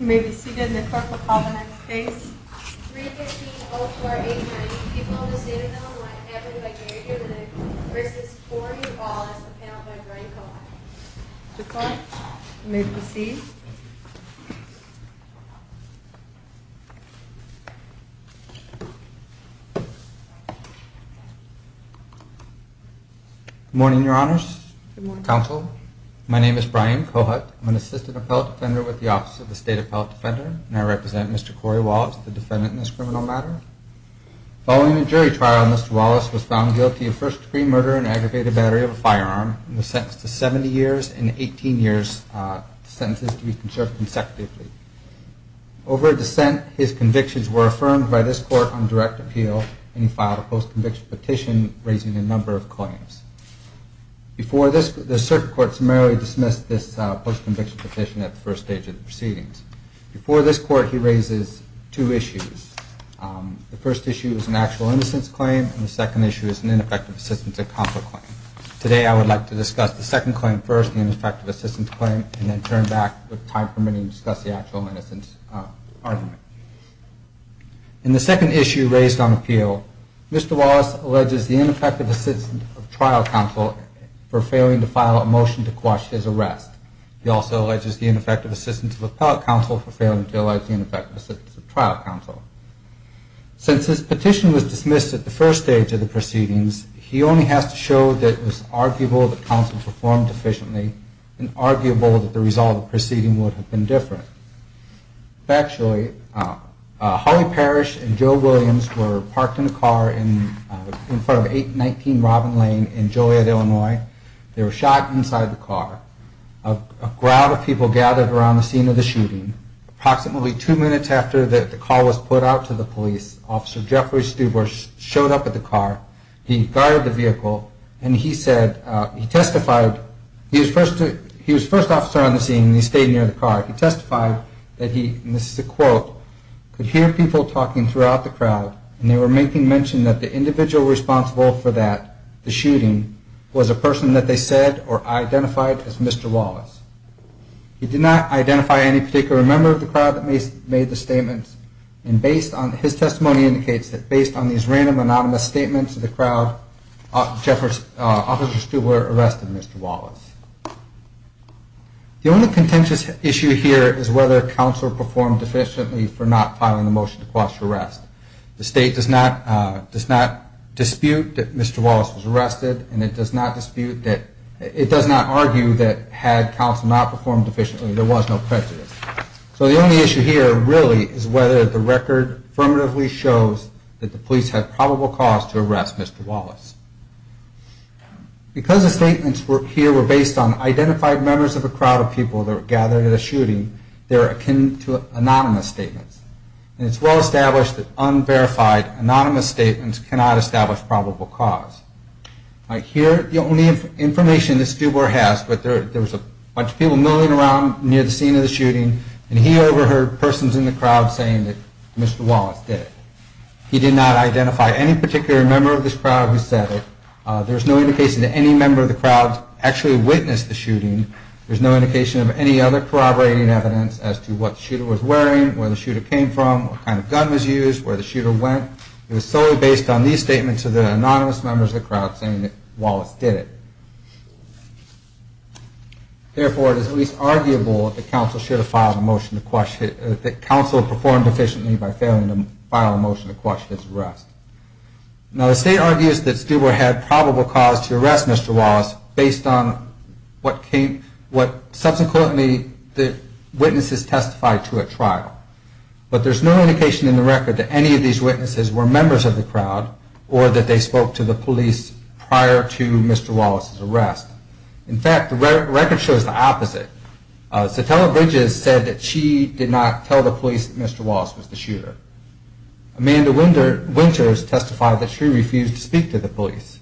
may be seated in the apartment on the next case 315-0489 people in the state of Illinois have been invigorated with the risks for you all as a penalty by Brian Cohut. Good point. You may proceed. Good morning, your honors, counsel. My name is Brian Cohut. I'm an assistant appellate defender with the Office of the State Appellate Defender and I represent Mr. Corey Wallace, the defendant in this criminal matter. Following a jury trial Mr. Wallace was found guilty of first degree murder and aggravated battery of a firearm and was sentenced to 70 years and 18 years sentences to be conserved consecutively. Over dissent his convictions were affirmed by this court on direct appeal and he filed a post conviction petition raising a number of claims. Before this the circuit court summarily dismissed this post conviction petition at the first stage of the proceedings. Before this court he raises two issues. The first issue is an actual innocence claim and the second issue is an ineffective assistance in conflict claim. Today I would like to discuss the second claim first, the ineffective assistance claim, and then turn back with time permitting to discuss the actual innocence argument. In the second issue raised on appeal Mr. Wallace alleges the ineffective assistance of trial counsel for failing to file a motion to quash his arrest. He also alleges the ineffective assistance of appellate counsel for failing to allege the ineffective assistance of trial counsel. Since his petition was dismissed at the first stage of the proceedings he only has to show that it was arguable that counsel performed efficiently and arguable that the result of the proceeding would have been different. Actually, Holly Parrish and Joe Williams were parked in a car in front of 819 Robin Lane in Joliet, Illinois. They were shot inside the car. A crowd of people gathered around the scene of the shooting. Approximately two minutes after the call was put out to the police, Officer Jeffrey Stubor showed up at the car. He guarded the vehicle and he said, he testified, he was first officer on the scene and he stayed near the car. He testified that he, and this is a quote, could hear people talking throughout the crowd and they were making mention that the individual responsible for that, the shooting, was a person that they said or identified as Mr. Wallace. He did not identify any particular member of the crowd that made the statement. His testimony indicates that based on these random anonymous statements of the crowd, Officer Stubor arrested Mr. Wallace. The only contentious issue here is whether counsel performed efficiently for not filing a motion to quash arrest. The state does not dispute that Mr. Wallace was arrested and it does not argue that had counsel not performed efficiently, there was no prejudice. So the only issue here really is whether the record affirmatively shows that the police had probable cause to arrest Mr. Wallace. Because the statements here were based on identified members of a crowd of people that were gathered at a shooting, they are akin to anonymous statements. It's well established that unverified anonymous statements cannot establish probable cause. Here the only information that Stubor has, there was a bunch of people milling around near the scene of the shooting and he overheard persons in the crowd saying that Mr. Wallace did it. He did not identify any particular member of the crowd who said it. There's no indication that any member of the crowd actually witnessed the shooting. There's no indication of any other corroborating evidence as to what the shooter was wearing, where the shooter came from, what kind of gun was used, where the shooter went. It was solely based on these statements of the anonymous members of the crowd saying that Wallace did it. Therefore, it is at least arguable that counsel performed efficiently by failing to file a motion to quash his arrest. Now the state argues that Stubor had probable cause to arrest Mr. Wallace based on what subsequently the witnesses testified to at trial. But there's no indication in the record that any of these witnesses were members of the crowd or that they spoke to the police prior to Mr. Wallace's arrest. In fact, the record shows the opposite. Satella Bridges said that she did not tell the police that Mr. Wallace was the shooter. Amanda Winters testified that she refused to speak to the police.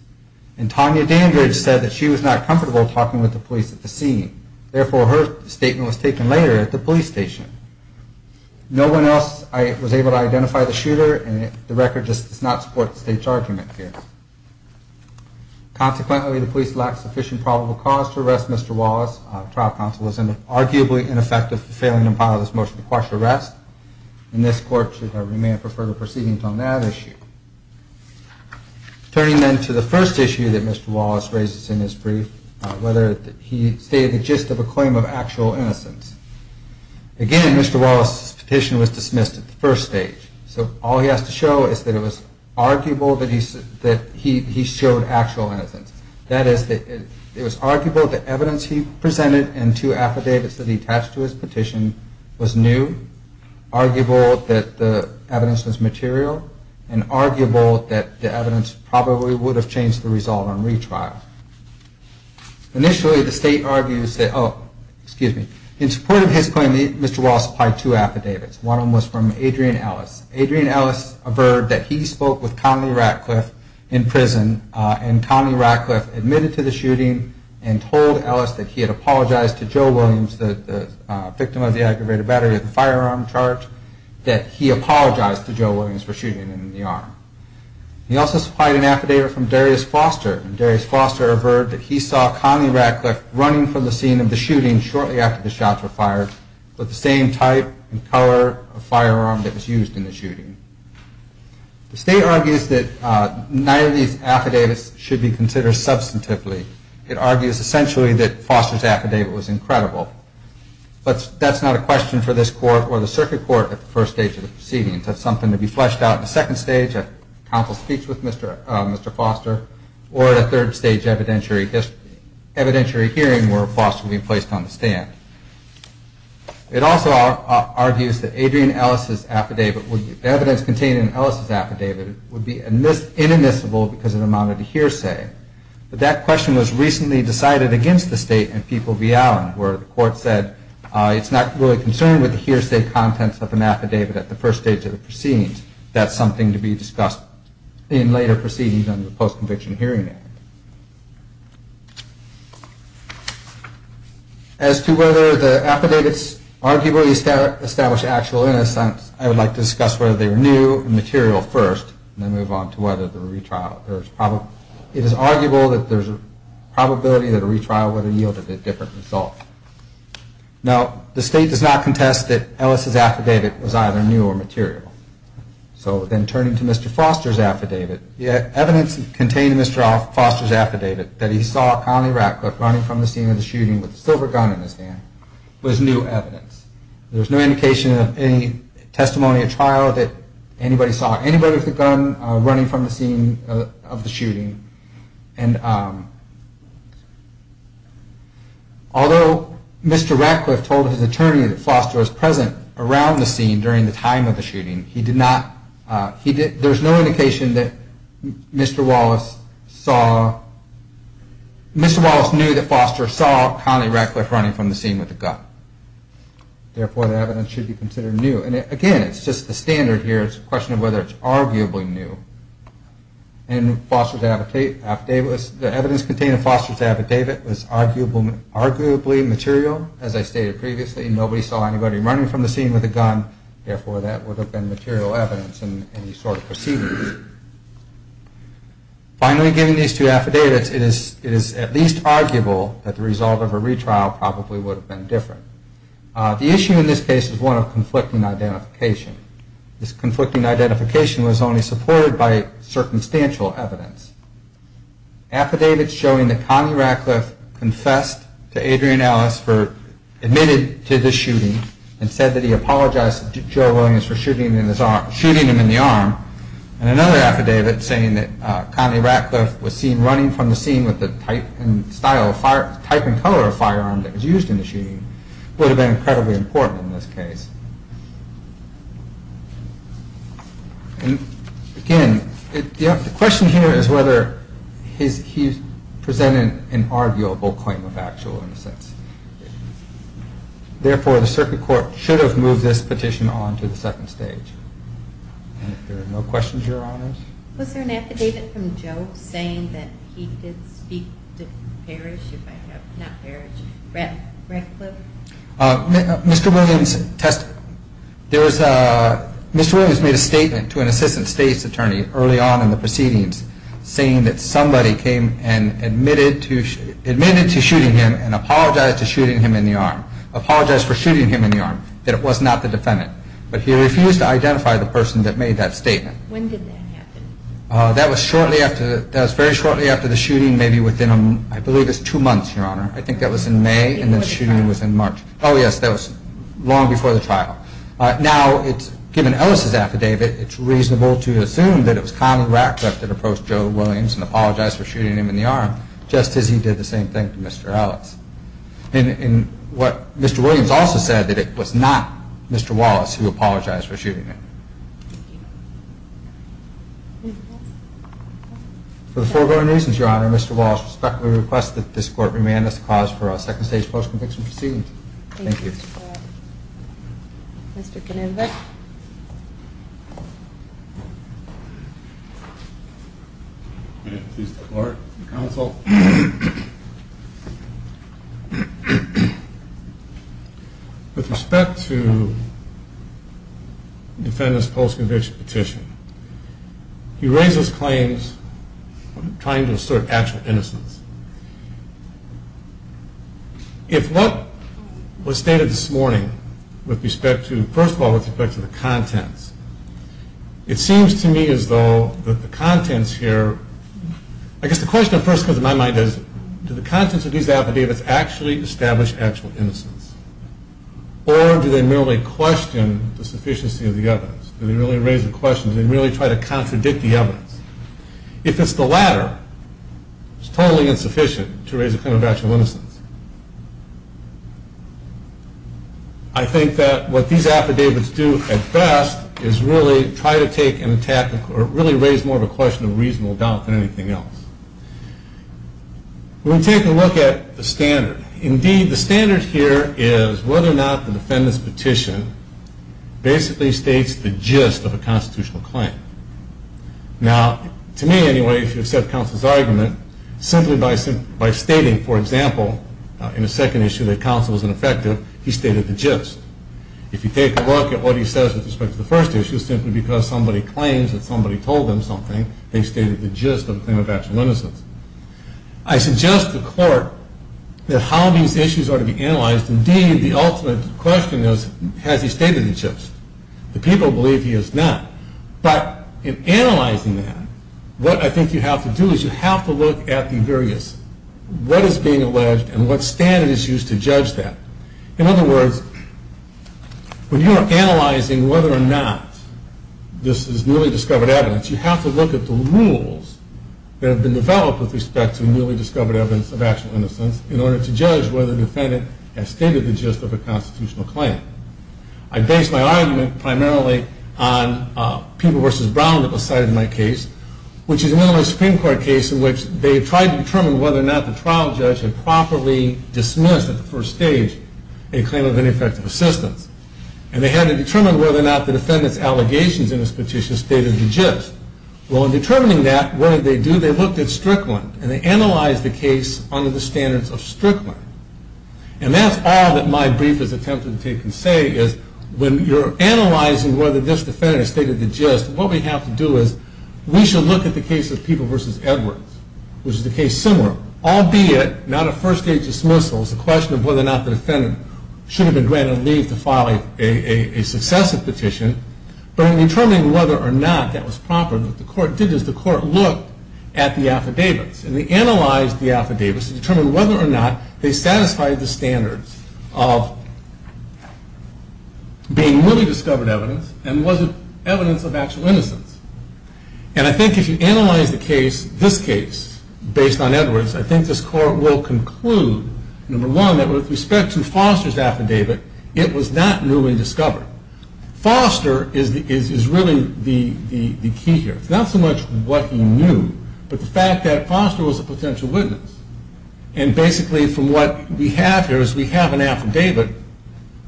And Tanya Dandridge said that she was not comfortable talking with the police at the scene. Therefore, her statement was taken later at the police station. No one else was able to identify the shooter and the record just does not support the state's argument here. Consequently, the police lacked sufficient probable cause to arrest Mr. Wallace. Trial counsel was arguably ineffective for failing to file this motion to quash his arrest and this court should remain for further proceedings on that issue. Turning then to the first issue that Mr. Wallace raises in his brief, whether he stated the gist of a claim of actual innocence. Mr. Wallace's petition was dismissed at the first stage. So all he has to show is that it was arguable that he showed actual innocence. That is, it was arguable that the evidence he presented and two affidavits that he attached to his petition was new, arguable that the evidence was material, and arguable that the evidence probably would have changed the result on retrial. Initially, the state argues that, oh, excuse me, in support of his claim, Mr. Wallace supplied two affidavits. One of them was from Adrian Ellis. Adrian Ellis averred that he spoke with Conley Ratcliffe in prison and Conley Ratcliffe admitted to the shooting and told Ellis that he had apologized to Joe Williams, the victim of the aggravated battery of the firearm charge, that he apologized to Joe Williams for shooting him in the arm. He also supplied an affidavit from Darius Foster, and Darius Foster averred that he saw Conley Ratcliffe running from the scene of the shooting shortly after the shots were fired with the same type and color of firearm that was used in the shooting. The state argues that neither of these affidavits should be considered substantively. It argues essentially that Foster's affidavit was incredible. But that's not a question for this court or the circuit court at the first stage of the proceedings. That's something to be fleshed out in the second stage, if counsel speaks with Mr. Foster, or at a third stage evidentiary hearing where Foster will be placed on the stand. It also argues that the evidence contained in Ellis' affidavit would be inadmissible because it amounted to hearsay. But that question was recently decided against the state in People v. Allen, where the court said it's not really concerned with the hearsay contents of an affidavit at the first stage of the proceedings. That's something to be discussed in later proceedings under the Post-Conviction Hearing Act. As to whether the affidavits arguably establish actual innocence, I would like to discuss whether they were new and material first, and then move on to whether there were retrials. It is arguable that there's a probability that a retrial would have yielded a different result. Now, the state does not contest that Ellis' affidavit was either new or material. So then turning to Mr. Foster's affidavit, the evidence contained in Mr. Foster's affidavit that he saw running from the scene of the shooting with a silver gun in his hand was new evidence. There's no indication of any testimony at trial that anybody saw anybody with a gun running from the scene of the shooting. Although Mr. Ratcliffe told his attorney that Foster was present around the scene during the time of the shooting, there's no indication that Mr. Wallace knew that Foster saw Connie Ratcliffe running from the scene with a gun. Therefore, the evidence should be considered new. And again, it's just a standard here, it's a question of whether it's arguably new. The evidence contained in Foster's affidavit was arguably material. As I stated previously, nobody saw anybody running from the scene with a gun. Therefore, that would have been material evidence in any sort of proceedings. Finally, given these two affidavits, it is at least arguable that the result of a retrial probably would have been different. The issue in this case is one of conflicting identification. This conflicting identification was only supported by circumstantial evidence. Affidavits showing that Connie Ratcliffe confessed to Adrian Ellis, admitted to the shooting, and said that he apologized to Joe Williams for shooting him in the arm, and another affidavit saying that Connie Ratcliffe was seen running from the scene with the type and color of firearm that was used in the shooting, would have been incredibly important in this case. And again, the question here is whether he presented an arguable claim of factual innocence. Therefore, the circuit court should have moved this petition on to the second stage. And if there are no questions, Your Honors. Was there an affidavit from Joe saying that he did speak to Ratcliffe? Mr. Williams made a statement to an assistant state's attorney early on in the proceedings saying that somebody came and admitted to shooting him and apologized for shooting him in the arm, that it was not the defendant. But he refused to identify the person that made that statement. That was very shortly after the shooting, maybe within, I believe it was two months, Your Honor. I think that was in May and the shooting was in March. Now, given Ellis' affidavit, it's reasonable to assume that it was Connie Ratcliffe that approached Joe Williams and apologized for shooting him in the arm, just as he did the same thing to Mr. Ellis. And what Mr. Williams also said, that it was not Mr. Wallace who apologized for shooting him. For the foregoing reasons, Your Honor, Mr. Wallace respectfully requests that this court remand us to pause for our second stage post-conviction proceedings. Thank you. Thank you, Mr. Clark. Mr. Canova. With respect to the defendant's post-conviction petition, he raises claims trying to assert actual innocence. If what was stated this morning, with respect to, first of all, with respect to the contents, it seems to me as though the contents here, I guess the question that first comes to my mind is, do the contents of these affidavits actually establish actual innocence? Or do they merely question the sufficiency of the evidence? Do they merely raise the question, do they merely try to contradict the evidence? If it's the latter, it's totally insufficient to raise a claim of actual innocence. I think that what these affidavits do at best is really try to take an attack, or really raise more of a question of reasonable doubt than anything else. When we take a look at the standard, indeed the standard here is whether or not the defendant's petition basically states the gist of a constitutional claim. Now, to me anyway, if you accept counsel's argument, simply by stating, for example, in the second issue that counsel is ineffective, he stated the gist. If you take a look at what he says with respect to the first issue, simply because somebody claims that somebody told them something, they stated the gist of a claim of actual innocence. I suggest to court that how these issues are to be analyzed, indeed the ultimate question is, has he stated the gist? The people believe he has not. But in analyzing that, what I think you have to do is you have to look at the various, what is being alleged and what standard is used to judge that. In other words, when you are analyzing whether or not this is newly discovered evidence, you have to look at the rules that have been developed with respect to newly discovered evidence of actual innocence in order to judge whether the defendant has stated the gist of a constitutional claim. I base my argument primarily on People v. Brown that was cited in my case, which is one of my Supreme Court cases in which they tried to determine whether or not the trial judge had properly dismissed, at the first stage, a claim of ineffective assistance. And they had to determine whether or not the defendant's allegations in this petition stated the gist. Well, in determining that, what did they do? They looked at Strickland. And they analyzed the case under the standards of Strickland. And that's all that my brief has attempted to take and say, is when you're analyzing whether this defendant has stated the gist, what we have to do is we should look at the case of People v. Edwards, which is a case similar, albeit not a first-stage dismissal. It's a question of whether or not the defendant should have been granted leave to file a successive petition. But in determining whether or not that was proper, what the court did is the court looked at the affidavits. And they analyzed the affidavits to determine whether or not they satisfied the standards of being newly discovered evidence and whether evidence of actual innocence. And I think if you analyze the case, this case, based on Edwards, I think this court will conclude, number one, that with respect to Foster's affidavit, it was not newly discovered. Foster is really the key here. It's not so much what he knew, but the fact that Foster was a potential witness. And basically, from what we have here is we have an affidavit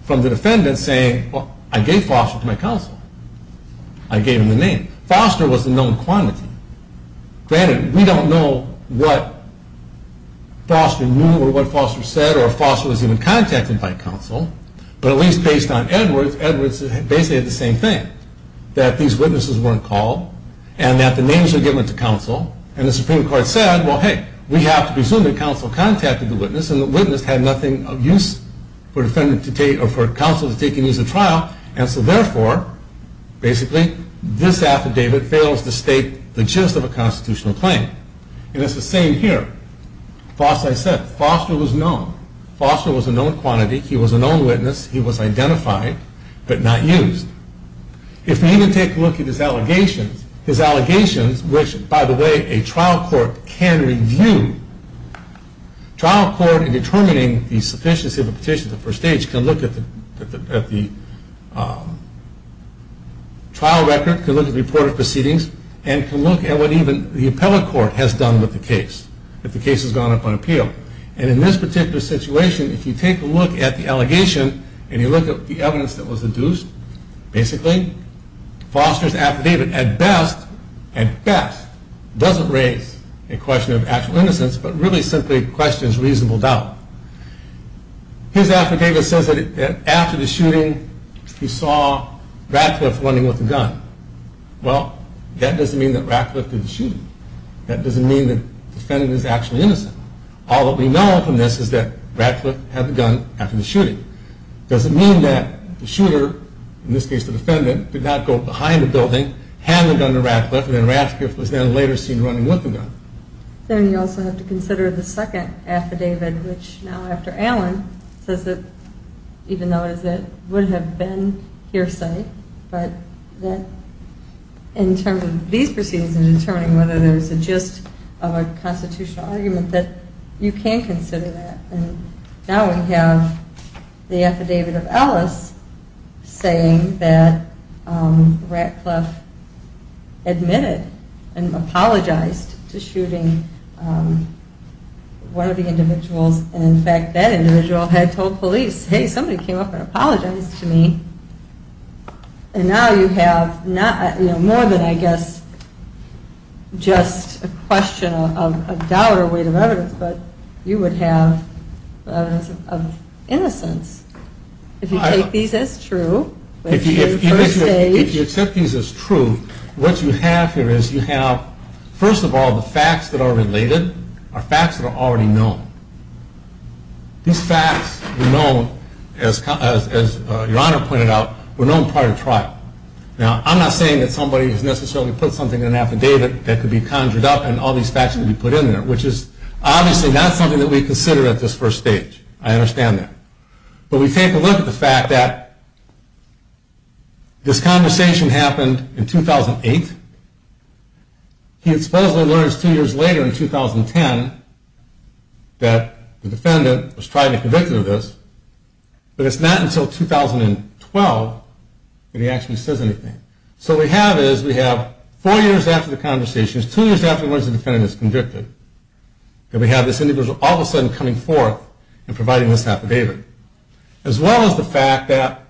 from the defendant saying, well, I gave Foster to my counsel. I gave him the name. Foster was a known quantity. Granted, we don't know what Foster knew or what Foster said or if Foster was even contacted by counsel. But at least based on Edwards, Edwards basically had the same thing, that these witnesses weren't called and that the names were given to counsel. And the Supreme Court said, well, hey, we have to presume that counsel contacted the witness and the witness had nothing of use for counsel to take and use in trial. And so therefore, basically, this affidavit fails to state the gist of a constitutional claim. And it's the same here. As I said, Foster was known. Foster was a known quantity. He was a known witness. He was identified, but not used. If we even take a look at his allegations, his allegations, which, by the way, a trial court can review. A trial court, in determining the sufficiency of a petition to the first stage, can look at the trial record, can look at the reported proceedings, and can look at what even the appellate court has done with the case, if the case has gone up on appeal. And in this particular situation, if you take a look at the allegation and you look at the evidence that was induced, basically, Foster's affidavit, at best, doesn't raise a question of actual innocence, but really simply questions reasonable doubt. His affidavit says that after the shooting, he saw Radcliffe running with a gun. Well, that doesn't mean that Radcliffe did the shooting. That doesn't mean that the defendant is actually innocent. All that we know from this is that Radcliffe had the gun after the shooting. It doesn't mean that the shooter, in this case the defendant, did not go behind the building, had the gun to Radcliffe, and then Radcliffe was then later seen running with the gun. Then you also have to consider the second affidavit, which now, after Allen, says that even though it would have been hearsay, but in terms of these proceedings and determining whether there's a gist of a constitutional argument, that you can consider that. Now we have the affidavit of Ellis saying that Radcliffe admitted and apologized to shooting one of the individuals, and in fact, that individual had told police, hey, somebody came up and apologized to me. And now you have more than, I guess, just a question of doubt or weight of evidence, but you would have evidence of innocence if you take these as true. If you accept these as true, what you have here is you have, first of all, the facts that are related are facts that are already known. These facts were known, as Your Honor pointed out, were known prior to trial. Now I'm not saying that somebody has necessarily put something in an affidavit that could be conjured up and all these facts could be put in there, which is obviously not something that we consider at this first stage. I understand that. But we take a look at the fact that this conversation happened in 2008. He supposedly learns two years later in 2010 that the defendant was tried and convicted of this, but it's not until 2012 that he actually says anything. So what we have is we have four years after the conversation, two years after the defendant is convicted, and we have this individual all of a sudden coming forth and providing this affidavit, as well as the fact that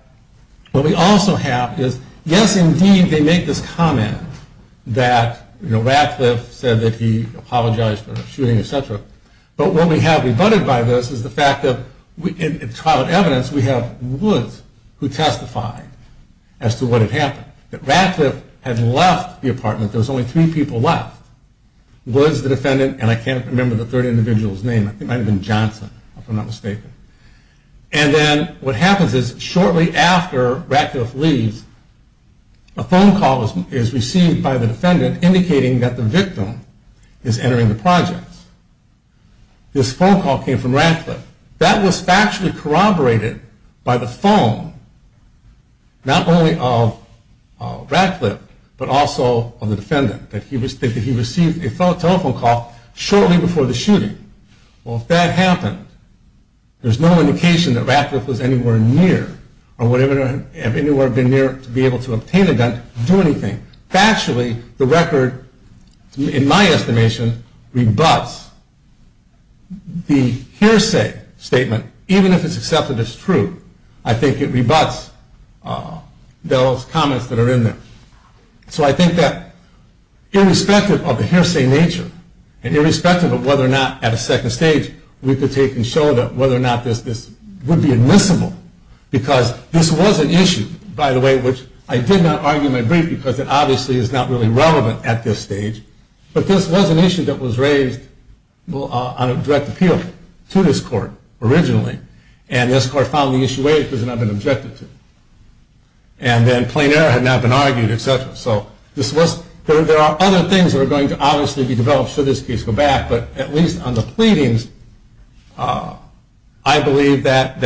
what we also have is, yes, indeed, they make this comment that Radcliffe said that he apologized for the shooting, et cetera, but what we have rebutted by this is the fact that in trial of evidence, we have Woods who testified as to what had happened, that Radcliffe had left the apartment. There was only three people left. Woods, the defendant, and I can't remember the third individual's name. I think it might have been Johnson, if I'm not mistaken. And then what happens is shortly after Radcliffe leaves, a phone call is received by the defendant indicating that the victim is entering the projects. This phone call came from Radcliffe. That was factually corroborated by the phone, not only of Radcliffe, but also of the defendant, that he received a telephone call shortly before the shooting. Well, if that happened, there's no indication that Radcliffe was anywhere near or would have been anywhere near to be able to obtain a gun to do anything. Factually, the record, in my estimation, rebuts. The hearsay statement, even if it's accepted as true, I think it rebuts those comments that are in there. So I think that irrespective of the hearsay nature and irrespective of whether or not at a second stage, we could take and show that whether or not this would be admissible, because this was an issue, by the way, which I did not argue in my brief because it obviously is not really relevant at this stage, but this was an issue that was raised on a direct appeal to this court originally, and this court found the issue waived because it had not been objected to. And then plain error had not been argued, et cetera. So there are other things that are going to obviously be developed should this case go back, but at least on the pleadings, I believe that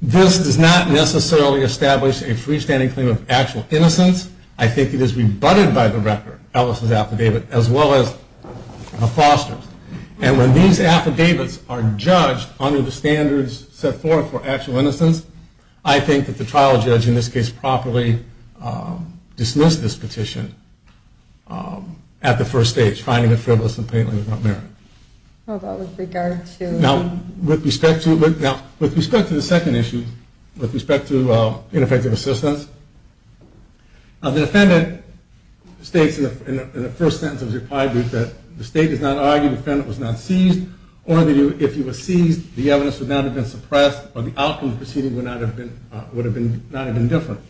this does not necessarily establish a freestanding claim of actual innocence. I think it is rebutted by the record, Ellis' affidavit, as well as the foster's. And when these affidavits are judged under the standards set forth for actual innocence, I think that the trial judge in this case properly dismissed this petition at the first stage, finding it frivolous and plainly without merit. Now, with respect to the second issue, with respect to ineffective assistance, the defendant states in the first sentence of his reply group that the state does not argue the defendant was not seized, or if he was seized, the evidence would not have been suppressed or the outcome of the proceeding would not have been different.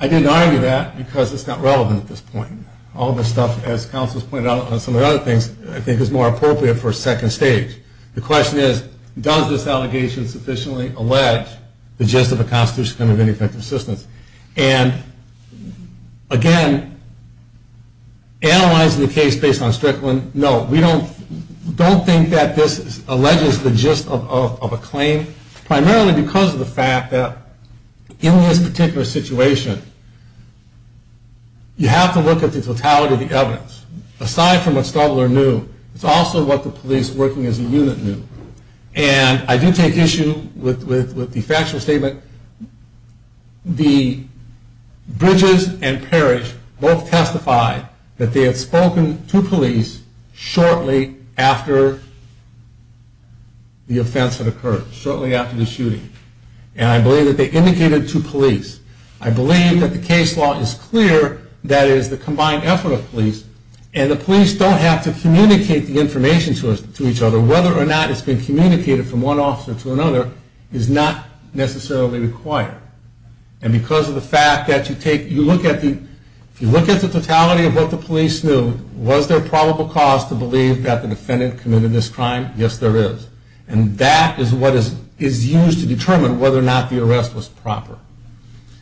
I did not argue that because it is not relevant at this point. All this stuff, as counsel has pointed out on some of the other things, I think is more appropriate for a second stage. The question is, does this allegation sufficiently allege the gist of a constitution in respect of ineffective assistance? And, again, analyzing the case based on Strickland, no. We don't think that this alleges the gist of a claim, primarily because of the fact that in this particular situation, you have to look at the totality of the evidence. Aside from what Stubbler knew, it's also what the police working as a unit knew. And I do take issue with the factual statement. The Bridges and Parrish both testified that they had spoken to police shortly after the offense had occurred, shortly after the shooting. And I believe that they indicated to police. I believe that the case law is clear, that is the combined effort of police, and the police don't have to communicate the information to each other, and whether or not it's been communicated from one officer to another is not necessarily required. And because of the fact that you look at the totality of what the police knew, was there probable cause to believe that the defendant committed this crime? Yes, there is. And that is what is used to determine whether or not the arrest was proper.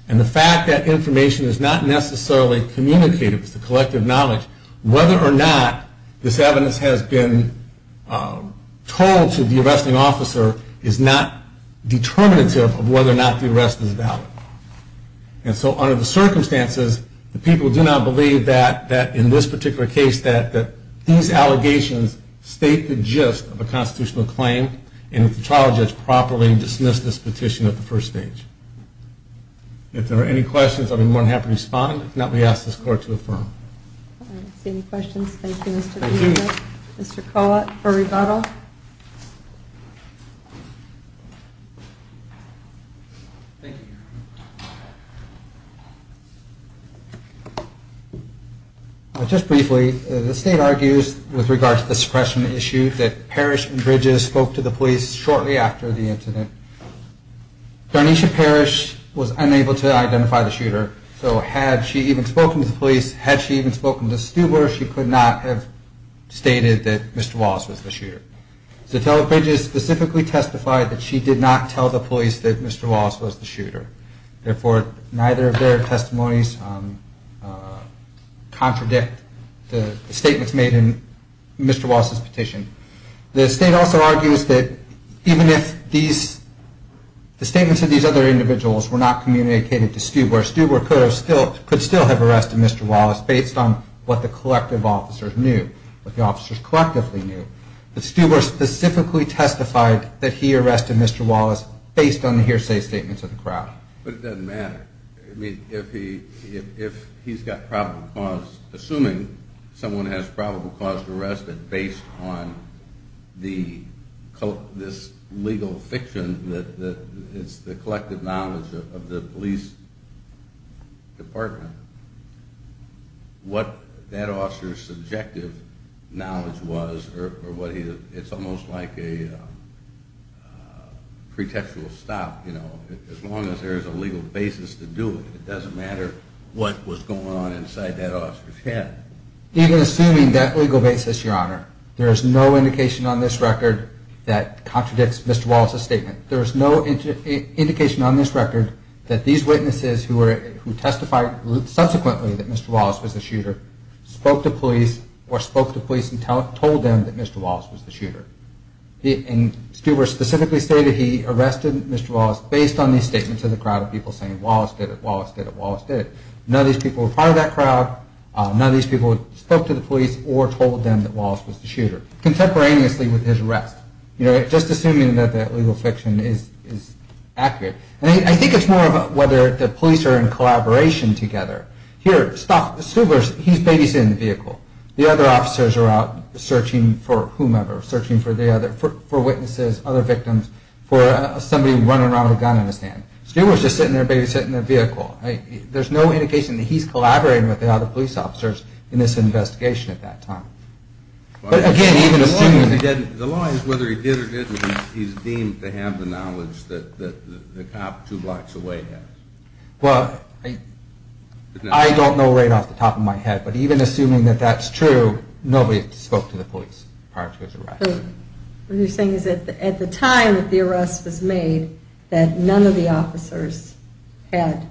And the fact that information is not necessarily communicated, it's the collective knowledge, whether or not this evidence has been told to the arresting officer is not determinative of whether or not the arrest is valid. And so under the circumstances, the people do not believe that in this particular case, that these allegations state the gist of a constitutional claim, and that the trial judge properly dismissed this petition at the first stage. If there are any questions, I'd be more than happy to respond. If not, we ask this court to affirm. I don't see any questions. Thank you, Mr. Darnesia. Thank you. Mr. Collett for rebuttal. Just briefly, the state argues with regard to the suppression issue that Parrish and Bridges spoke to the police shortly after the incident. Darnesia Parrish was unable to identify the shooter, so had she even spoken to the police, had she even spoken to Stuber, she could not have stated that Mr. Wallace was the shooter. So Bridges specifically testified that she did not tell the police that Mr. Wallace was the shooter. Therefore, neither of their testimonies contradict the statements made in Mr. Wallace's petition. The state also argues that even if the statements of these other individuals were not communicated to Stuber, Stuber could still have arrested Mr. Wallace based on what the collective officers knew, what the officers collectively knew. But Stuber specifically testified that he arrested Mr. Wallace based on the hearsay statements of the crowd. But it doesn't matter. I mean, if he's got probable cause, assuming someone has probable cause to arrest him based on this legal fiction, that it's the collective knowledge of the police department, what that officer's subjective knowledge was, it's almost like a pretextual stop, you know. As long as there's a legal basis to do it, it doesn't matter what was going on inside that officer's head. Even assuming that legal basis, Your Honor, there is no indication on this record that contradicts Mr. Wallace's statement. There is no indication on this record that these witnesses who testified subsequently that Mr. Wallace was the shooter spoke to police or spoke to police and told them that Mr. Wallace was the shooter. And Stuber specifically stated he arrested Mr. Wallace based on these statements of the crowd of people saying, Wallace did it, Wallace did it, Wallace did it. None of these people were part of that crowd. None of these people spoke to the police or told them that Wallace was the shooter, contemporaneously with his arrest. You know, just assuming that that legal fiction is accurate. I think it's more about whether the police are in collaboration together. Here, Stuber, he's babysitting the vehicle. The other officers are out searching for whomever, searching for witnesses, other victims, for somebody running around with a gun in his hand. Stuber's just sitting there babysitting the vehicle. There's no indication that he's collaborating with the other police officers in this investigation at that time. But again, even assuming... The law is whether he did or didn't, he's deemed to have the knowledge that the cop two blocks away has. Well, I don't know right off the top of my head, but even assuming that that's true, nobody spoke to the police prior to his arrest. What you're saying is that at the time that the arrest was made, that none of the officers had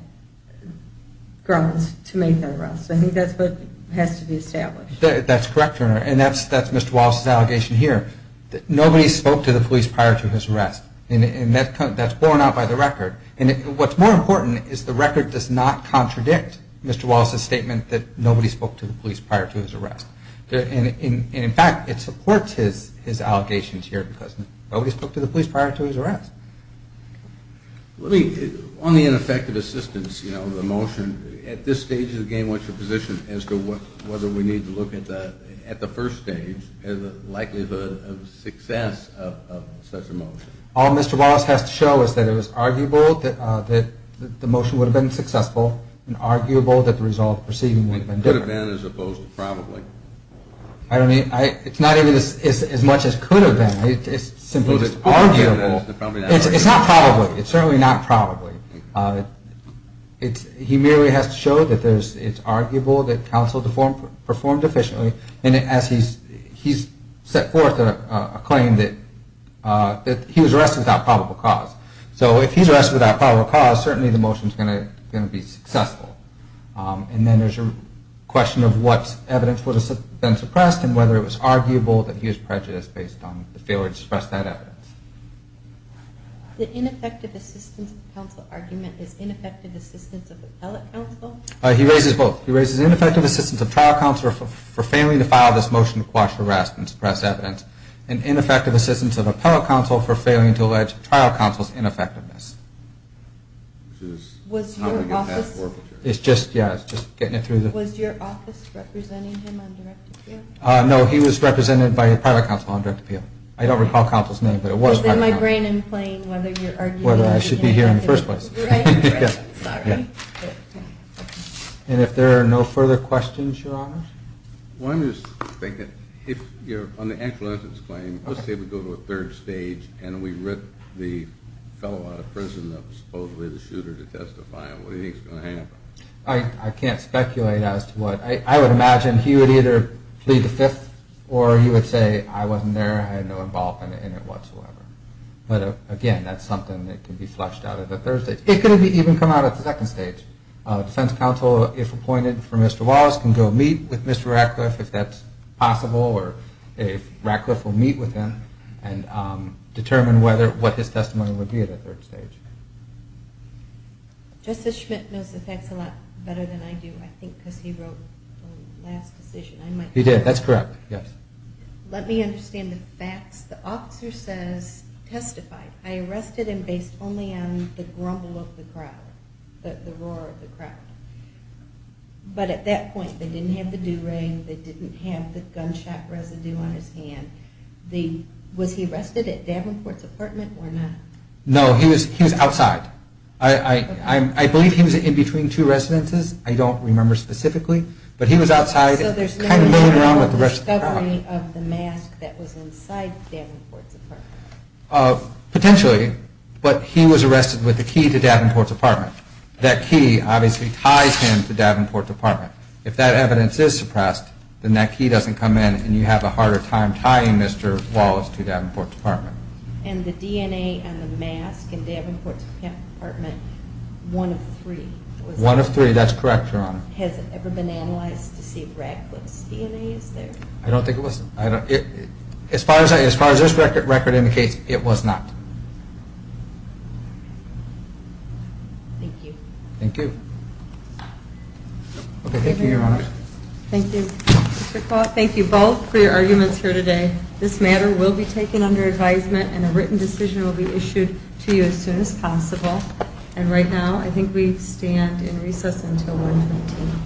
grounds to make that arrest. I think that's what has to be established. That's correct, Your Honor. And that's Mr. Wallace's allegation here. Nobody spoke to the police prior to his arrest. And that's borne out by the record. And what's more important is the record does not contradict Mr. Wallace's statement that nobody spoke to the police prior to his arrest. And in fact, it supports his allegations here because nobody spoke to the police prior to his arrest. Let me... On the ineffective assistance, you know, the motion, at this stage, again, what's your position as to whether we need to look at the first stage and the likelihood of success of such a motion? All Mr. Wallace has to show is that it was arguable that the motion would have been successful and arguable that the result of proceeding would have been different. It could have been as opposed to probably. I don't mean... It's not even as much as could have been. It's simply just arguable. It's not probably. It's certainly not probably. He merely has to show that it's arguable that counsel performed efficiently. And as he's set forth a claim that he was arrested without probable cause. So if he's arrested without probable cause, certainly the motion's going to be successful. And then there's your question of what evidence would have been suppressed and whether it was arguable that he was prejudiced based on the failure to suppress that evidence. The ineffective assistance of counsel argument is ineffective assistance of appellate counsel? He raises both. He raises ineffective assistance of trial counsel for failing to file this motion to quash harassment and suppress evidence, and ineffective assistance of appellate counsel for failing to allege trial counsel's ineffectiveness. Was your office... It's just, yeah, it's just getting it through the... Was your office representing him on direct appeal? No, he was represented by a private counsel on direct appeal. I don't recall counsel's name, but it was private counsel. Is there migraine in playing whether you're arguing... Whether I should be here in the first place. And if there are no further questions, Your Honor? One is, if you're on the actual instance claim, let's say we go to a third stage and we rip the fellow out of prison that was supposedly the shooter to testify, what do you think is going to happen? I can't speculate as to what... I would imagine he would either plead the fifth or he would say, I wasn't there, I had no involvement in it whatsoever. But, again, that's something that can be flushed out at the third stage. It could even come out at the second stage. A defense counsel, if appointed for Mr. Wallace, can go meet with Mr. Ratcliffe if that's possible or if Ratcliffe will meet with him and determine what his testimony would be at the third stage. Justice Schmidt knows the facts a lot better than I do, I think, because he wrote the last decision. He did, that's correct, yes. Let me understand the facts. The officer says, testified. I arrested him based only on the grumble of the crowd, the roar of the crowd. But at that point, they didn't have the do-rag, they didn't have the gunshot residue on his hand. Was he arrested at Davenport's apartment or not? No, he was outside. I believe he was in between two residences. I don't remember specifically. So there's no discovery of the mask that was inside Davenport's apartment? Potentially, but he was arrested with the key to Davenport's apartment. That key obviously ties him to Davenport's apartment. If that evidence is suppressed, then that key doesn't come in and you have a harder time tying Mr. Wallace to Davenport's apartment. And the DNA on the mask in Davenport's apartment, one of three? One of three, that's correct, Your Honor. Has it ever been analyzed to see if Radcliffe's DNA is there? I don't think it was. As far as this record indicates, it was not. Thank you. Thank you. Okay, thank you, Your Honor. Thank you. Mr. Kvaal, thank you both for your arguments here today. This matter will be taken under advisement and a written decision will be issued to you as soon as possible. And right now, I think we stand in recess until 1 p.m.